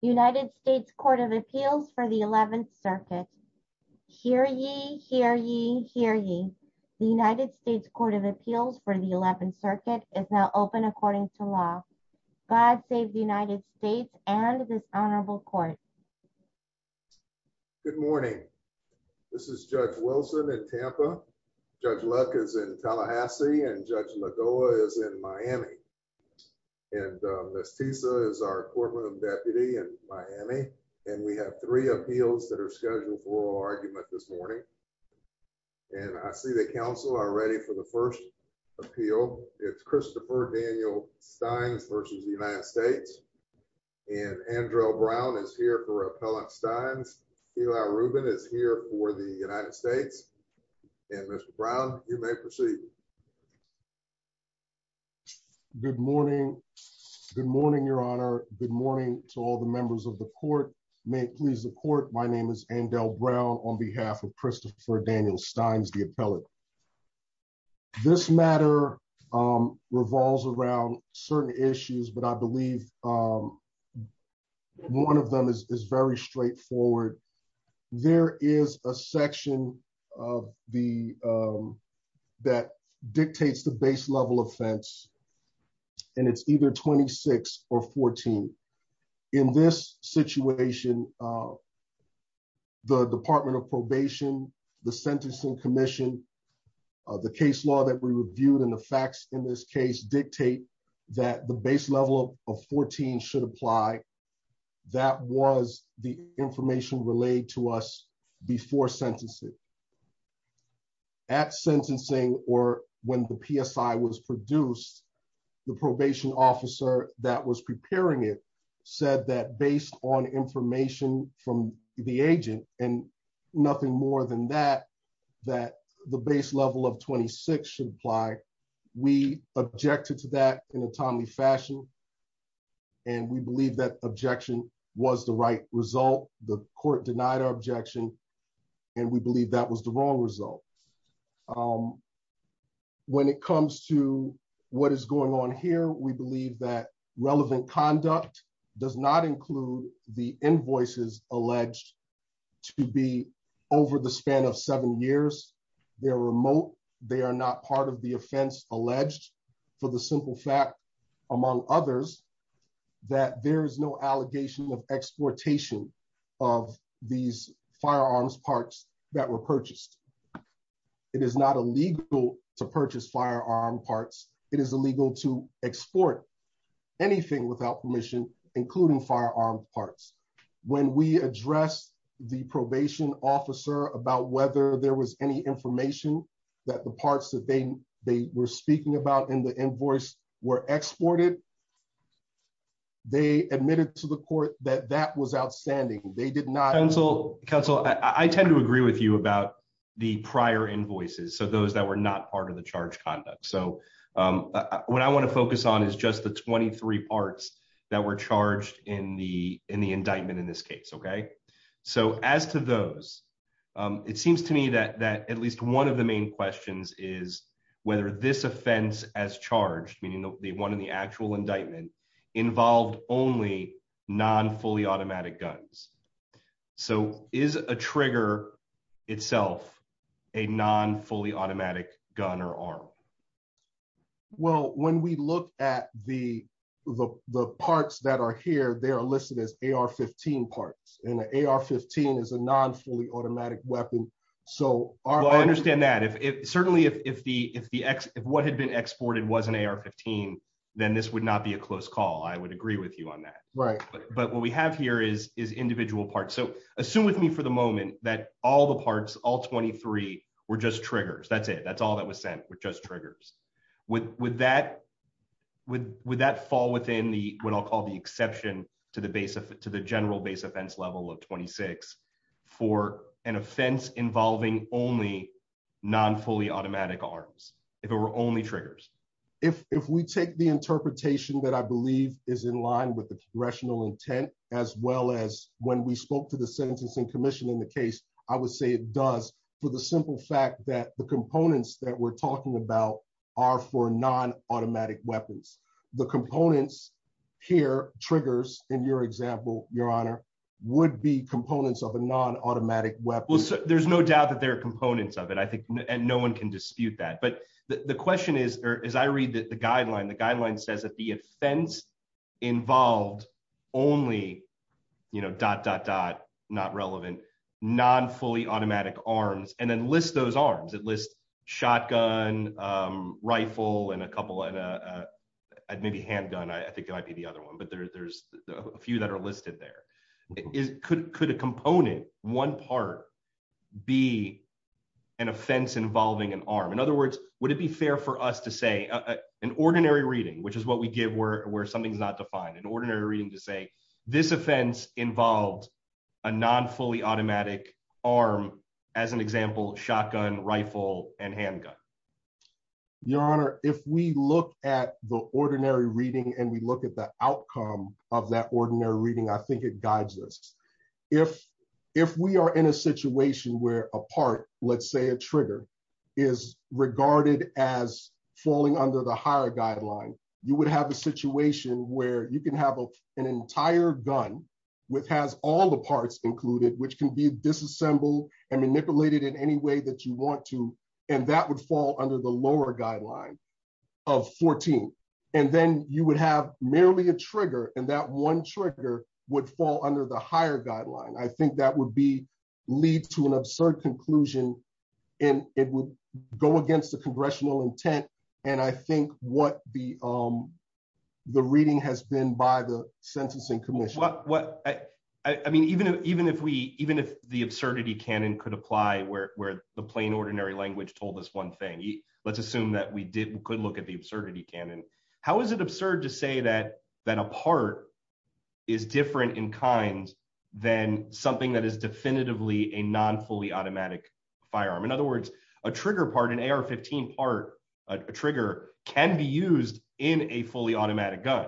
United States Court of Appeals for the 11th circuit. Hear ye, hear ye, hear ye. The United States Court of Appeals for the 11th circuit is now open according to law. God save the United States and this honorable court. Good morning. This is Judge Wilson in Tampa. Judge Luck is in Miami and we have three appeals that are scheduled for oral argument this morning. And I see the council are ready for the first appeal. It's Christopher Daniel Stines versus the United States. And Andrew Brown is here for Appellant Stines. Eli Rubin is here for the United States. And Mr. Brown, you may proceed. Good morning. Good morning, Your Honor. Good morning to all the members of the court. May it please the court. My name is Andel Brown on behalf of Christopher Daniel Stines, the appellate. This matter revolves around certain issues, but I believe one of them is very straightforward. There is a section of the that dictates the base level offense and it's either 26 or 14. In this situation, the Department of Probation, the Sentencing Commission, the case law that we reviewed and the facts in this case dictate that the base level of 14 should apply. That was the information relayed to us before sentencing. At sentencing or when the PSI was produced, the probation officer that was preparing it said that based on information from the agent and nothing more than that, that the base level of 26 should apply. We objected to that in a timely fashion and we believe that objection was the right result. The court denied our objection and we believe that was the wrong result. When it comes to what is going on here, we believe that relevant conduct does not include the invoices alleged to be over the span of seven years. They're remote. They are not part the offense alleged for the simple fact, among others, that there is no allegation of exportation of these firearms parts that were purchased. It is not illegal to purchase firearm parts. It is illegal to export anything without permission, including firearm parts. When we addressed the probation officer about whether there was any information that the parts that they were speaking about in the invoice were exported, they admitted to the court that that was outstanding. They did not... Counsel, I tend to agree with you about the prior invoices, so those that were not part of the charge conduct. What I want to focus on is just the 23 parts that were charged in the indictment in this case. As to those, it seems to me that at least one of the main questions is whether this offense as charged, meaning the one in the actual indictment, involved only non-fully automatic guns. So is a trigger itself a non-fully automatic gun or arm? Well, when we look at the parts that are here, they are listed as AR-15 parts and the AR-15 is a non-fully automatic weapon. Well, I understand that. Certainly, if what had been exported was an AR-15, then this would not be a close call. I would agree with you on that. But what we have here is individual parts. So assume with me for the moment that all the parts, all 23, were just triggers. That's it. That's all that was sent were just triggers. Would that fall within what I'll call exception to the general base offense level of 26 for an offense involving only non-fully automatic arms, if it were only triggers? If we take the interpretation that I believe is in line with the congressional intent, as well as when we spoke to the sentencing commission in the case, I would say it does for the simple fact that the components that we're talking about are for non-automatic weapons. The components here, triggers, in your example, your honor, would be components of a non-automatic weapon. Well, there's no doubt that there are components of it, I think, and no one can dispute that. But the question is, or as I read the guideline, the guideline says that the offense involved only dot, dot, dot, not relevant, non-fully automatic arms, and then list those arms. It lists shotgun, rifle, and a couple, and maybe handgun. I think it might be the other one, but there's a few that are listed there. Could a component, one part, be an offense involving an arm? In other words, would it be fair for us to say, an ordinary reading, which is what we give where something's not defined, an ordinary reading to say, this offense involved a non-fully automatic arm, as an example, shotgun, rifle, and handgun? Your honor, if we look at the ordinary reading and we look at the outcome of that ordinary reading, I think it guides us. If we are in a situation where a part, let's say a trigger, is regarded as falling under the higher guideline, you would have a situation where you can have an entire gun, which has all the parts included, which can be disassembled and manipulated in any way that you want to, and that would fall under the lower guideline of 14. And then you would have merely a trigger, and that one trigger would fall under the higher guideline. I think that would lead to an absurd conclusion, and it would go against the congressional intent, and I think what the reading has been by the sentencing commission. What, I mean, even if we, even if the absurdity canon could apply where the plain ordinary language told us one thing, let's assume that we could look at the absurdity canon. How is it absurd to say that a part is different in kind than something that is definitively a non-fully automatic firearm? In other words, a trigger part, an AR-15 part, a trigger can be used in a fully automatic gun.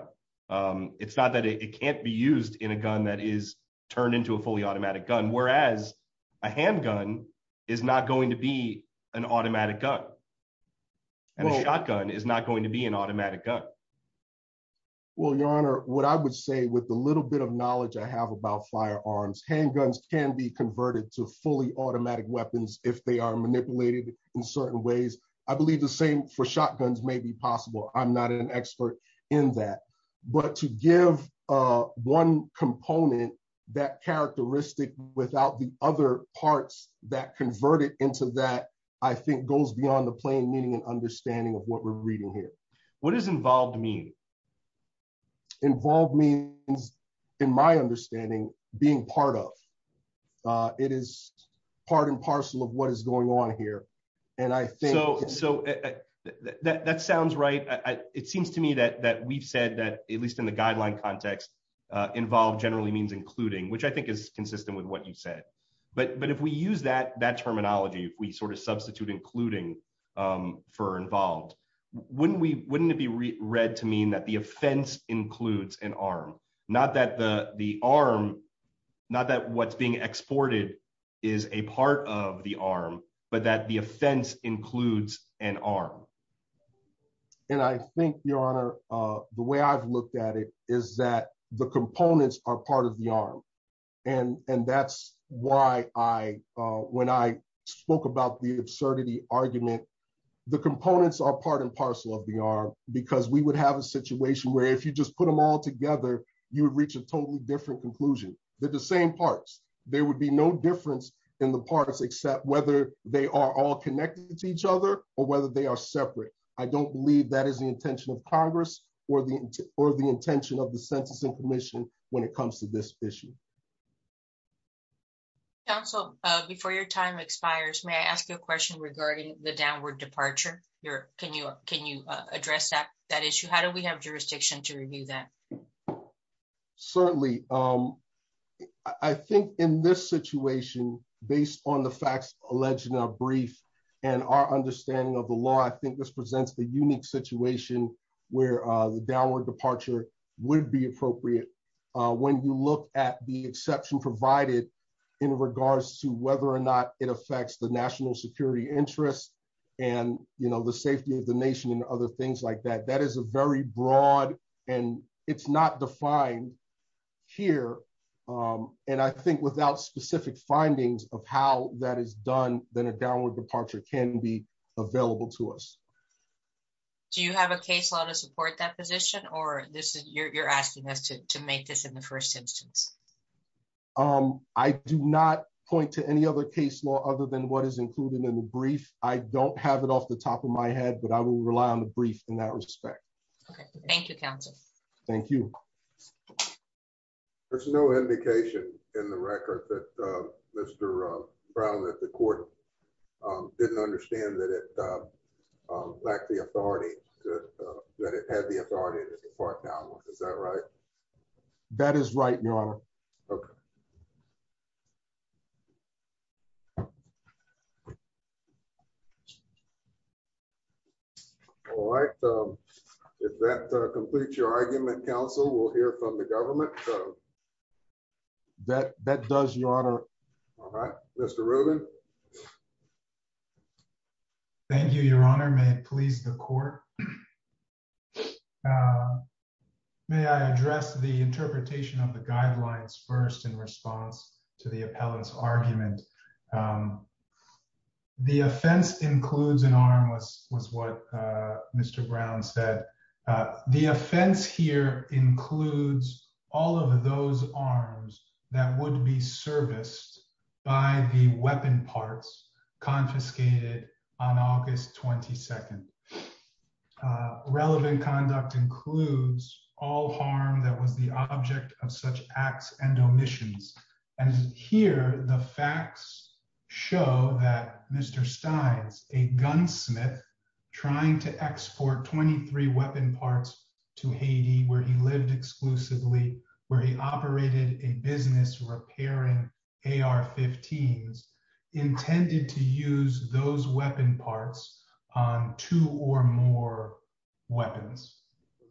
It's not that it can't be used in a gun that is turned into a fully automatic gun, whereas a handgun is not going to be an automatic gun, and a shotgun is not going to be an automatic gun. Well, your honor, what I would say with the little bit of knowledge I have about firearms, handguns can be converted to fully automatic weapons if they are manipulated in certain ways. I believe the same for shotguns may be possible. I'm not an expert in that, but to give one component that characteristic without the other parts that convert it into that, I think goes beyond the plain meaning and understanding of what we're in my understanding being part of. It is part and parcel of what is going on here, and I think- So that sounds right. It seems to me that we've said that, at least in the guideline context, involved generally means including, which I think is consistent with what you said. But if we use that terminology, if we sort of substitute including for involved, wouldn't it read to mean that the offense includes an arm? Not that the arm, not that what's being exported is a part of the arm, but that the offense includes an arm. And I think, your honor, the way I've looked at it is that the components are part of the arm. And that's why when I spoke about the absurdity argument, the components are part and parcel of the arm, because we would have a situation where if you just put them all together, you would reach a totally different conclusion. They're the same parts. There would be no difference in the parts except whether they are all connected to each other or whether they are separate. I don't believe that is the intention of Congress or the intention of the Census and Commission when it comes to this issue. Counsel, before your time expires, may I ask you a question regarding the downward departure? Can you address that issue? How do we have jurisdiction to review that? Certainly. I think in this situation, based on the facts alleged in our brief and our understanding of the law, I think this presents the unique situation where the downward departure would be appropriate. When you look at the national security interest and the safety of the nation and other things like that, that is a very broad and it's not defined here. And I think without specific findings of how that is done, then a downward departure can be available to us. Do you have a case law to support that position, or you're asking us to make this in the first instance? I do not point to any other case law other than what is included in the brief. I don't have it off the top of my head, but I will rely on the brief in that respect. Okay. Thank you, Counsel. Thank you. There's no indication in the record that Mr. Brown at the court didn't understand that it lacked the authority, that it had the authority to depart downwards. Is that right? That is right, Your Honor. Okay. All right. If that completes your argument, Counsel, we'll hear from the government. That does, Your Honor. All right. Mr. Rubin. Thank you, Your Honor. May it please the court. May I address the interpretation of the guidelines first in response to the appellant's argument. The offense includes an arm, was what Mr. Brown said. The offense here includes all of those arms that would be serviced by the weaponry confiscated on August 22nd. Relevant conduct includes all harm that was the object of such acts and omissions. Here, the facts show that Mr. Steins, a gunsmith trying to export 23 weapon parts to Haiti where he lived exclusively, where he operated a business repairing AR-15s, intended to use those weapon parts on two or more weapons.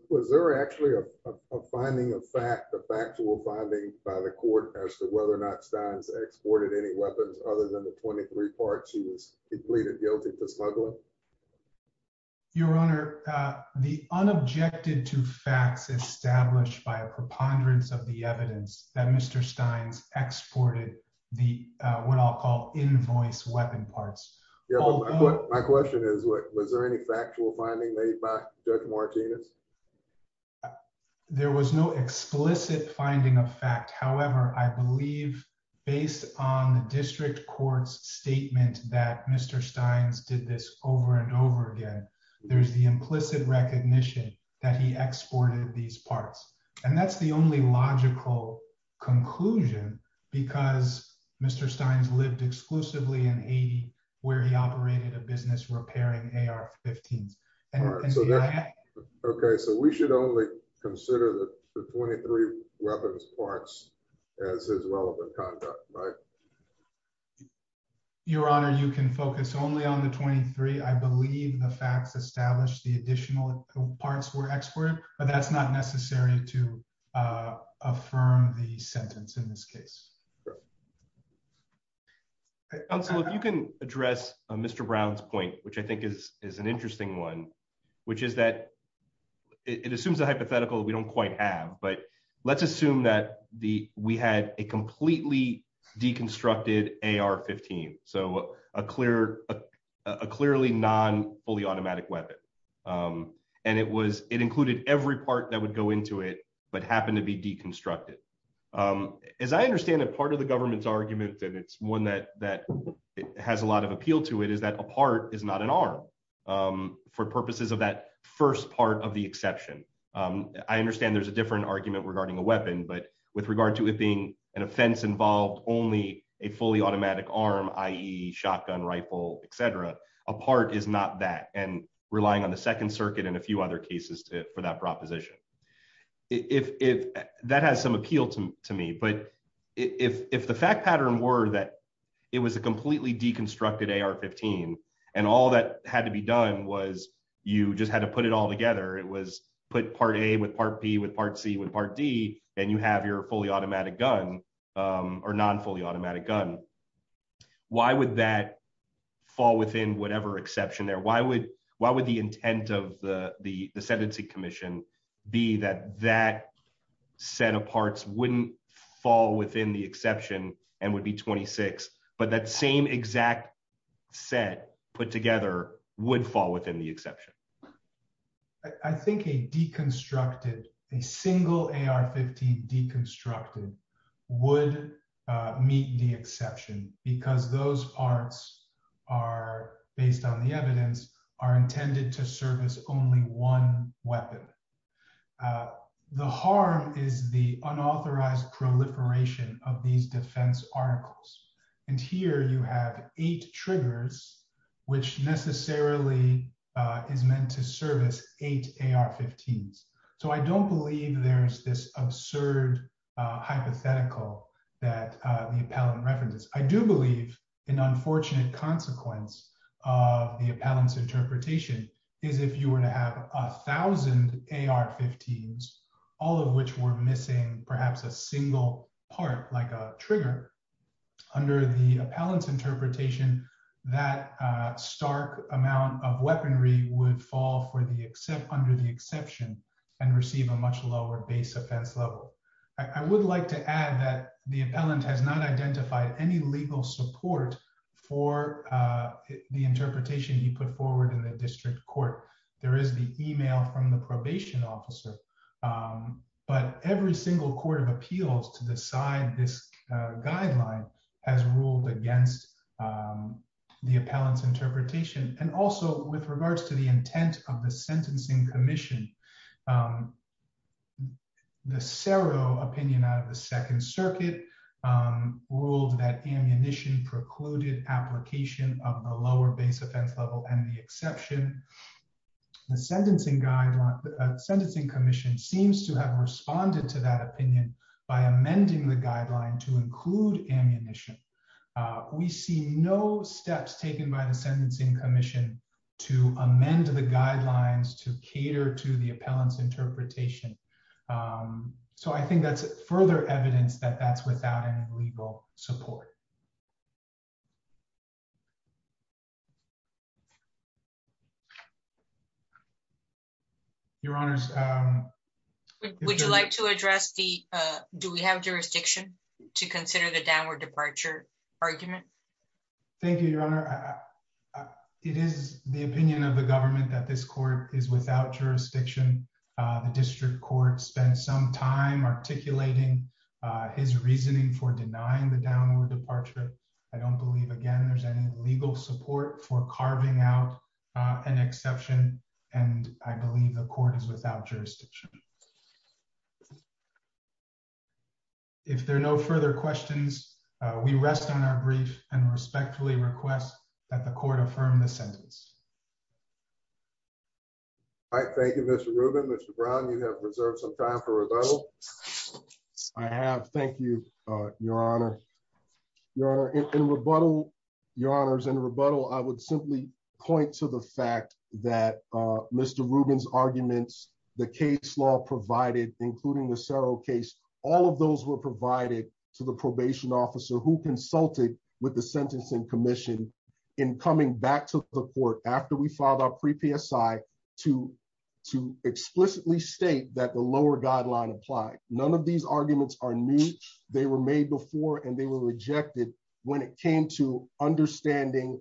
Was there actually a finding of fact, a factual finding by the court as to whether or not Steins exported any weapons other than the 23 parts he was completed guilty to smuggling? Your Honor, the unobjected to facts established by a preponderance of the evidence that Mr. Steins exported the, what I'll call invoice weapon parts. My question is, was there any factual finding made by Judge Martinez? There was no explicit finding of fact. However, I believe based on the district court's statement that Mr. Steins did this over and over again, there's the implicit recognition that he exported these parts. And that's the only logical conclusion because Mr. Steins lived exclusively in Haiti where he operated a business repairing AR-15s. Okay. So we should only consider the 23 weapons parts as his relevant conduct, right? Your Honor, you can focus only on the 23. I believe the facts established the additional parts were exported, but that's not necessary to affirm the sentence in this case. Counselor, if you can address Mr. Brown's point, which I think is an interesting one, which is that it assumes a hypothetical that we don't quite have, but let's assume that we had a completely deconstructed AR-15. So a clearly non-fully automatic weapon. And it included every part that would go into it, but happened to be deconstructed. As I understand it, part of the government's argument that it's one that has a lot of appeal to it is that a part is not an arm for purposes of that first part of the exception. I understand there's a different argument regarding a weapon, but with regard to it being an offense involved only a fully automatic arm, i.e. shotgun, rifle, et cetera, a part is not that and relying on the second circuit and a few other cases for that proposition. That has some appeal to me, but if the fact pattern were that it was a completely deconstructed AR-15 and all that had to be done was you just had to put it all together. It was put part A with part B with part C with part D, and you have your fully automatic gun or non-fully automatic gun. Why would that fall within whatever exception there? Why would the intent of the sentencing commission be that that set of parts wouldn't fall within the exception and would be 26, but that same exact set put together would fall within the exception? I think a deconstructed, a single AR-15 deconstructed would meet the exception because those parts are, based on the evidence, are intended to serve as only one weapon. The harm is the unauthorized proliferation of these defense articles, and here you have eight triggers which necessarily is meant to service eight AR-15s, so I don't believe there's this absurd hypothetical that the appellant references. I do believe an unfortunate consequence of the appellant's interpretation is if you were to have a thousand AR-15s, all of which were missing perhaps a single part, like a trigger, under the appellant's interpretation, that stark amount of weaponry would fall under the exception and receive a much lower base offense level. I would like to add that the appellant has not identified any legal support for the interpretation he put forward in the district court. There is email from the probation officer, but every single court of appeals to decide this guideline has ruled against the appellant's interpretation, and also with regards to the intent of the sentencing commission. The Cerro opinion out of the Second Circuit ruled that ammunition precluded application of the lower base offense level and the exception. The sentencing commission seems to have responded to that opinion by amending the guideline to include ammunition. We see no steps taken by the sentencing commission to amend the guidelines to cater to the appellant's interpretation, so I think that's further evidence that that's without any legal support. Your Honors, um... Would you like to address the, uh, do we have jurisdiction to consider the downward departure argument? Thank you, Your Honor. It is the opinion of the government that this court is without jurisdiction. The district court spent some time articulating his reasoning for denying the downward departure. I don't believe, again, there's any legal support for carving out an exception, and I believe the court is without jurisdiction. If there are no further questions, we rest on our brief and respectfully request that the court affirm the sentence. All right, thank you, Mr. Rubin. Mr. Brown, you have preserved some time for rebuttal. I have. Thank you, Your Honor. Your Honor, in rebuttal, Your Honors, in rebuttal, I would simply point to the fact that Mr. Rubin's arguments, the case law provided, including the Cerro case, all of those were provided to the probation officer who consulted with the sentencing commission in coming back to the court after we filed our pre-PSI to explicitly state that the lower guideline applied. None of these arguments are new. They were made before, and they were rejected when it came to understanding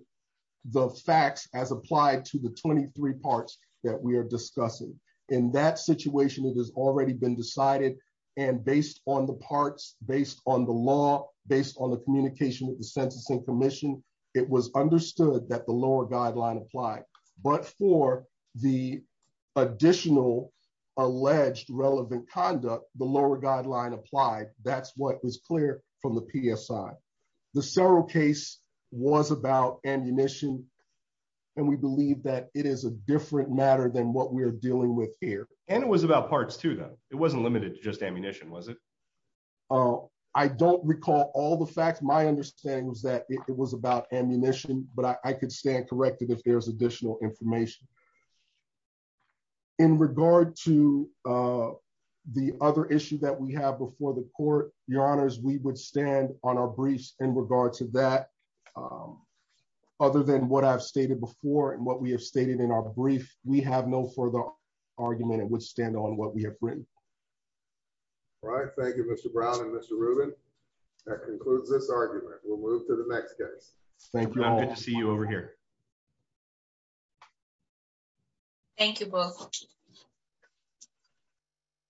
the facts as applied to the 23 parts that we are discussing. In that situation, it has already been decided, and based on the parts, based on the law, based on the communication with the sentencing commission, it was understood that the lower guideline applied. But for the additional alleged relevant conduct, the lower guideline applied. That's what was clear from the PSI. The Cerro case was about ammunition, and we believe that it is a different matter than what we are dealing with here. And it was about parts too, though. It wasn't limited to just ammunition, was it? I don't recall all the facts. My understanding was that it was about ammunition, but I could stand corrected if there's additional information. In regard to the other issue that we have before the court, Your Honors, we would stand on our briefs in regard to that. Other than what I've stated before and what we have stated in our brief, we have no further argument and would stand on what we have written. All right. Thank you, Mr. Brown and Mr. Rubin. That concludes this argument. We'll move to the next case. Thank you all. Good to see you over here. Thank you both.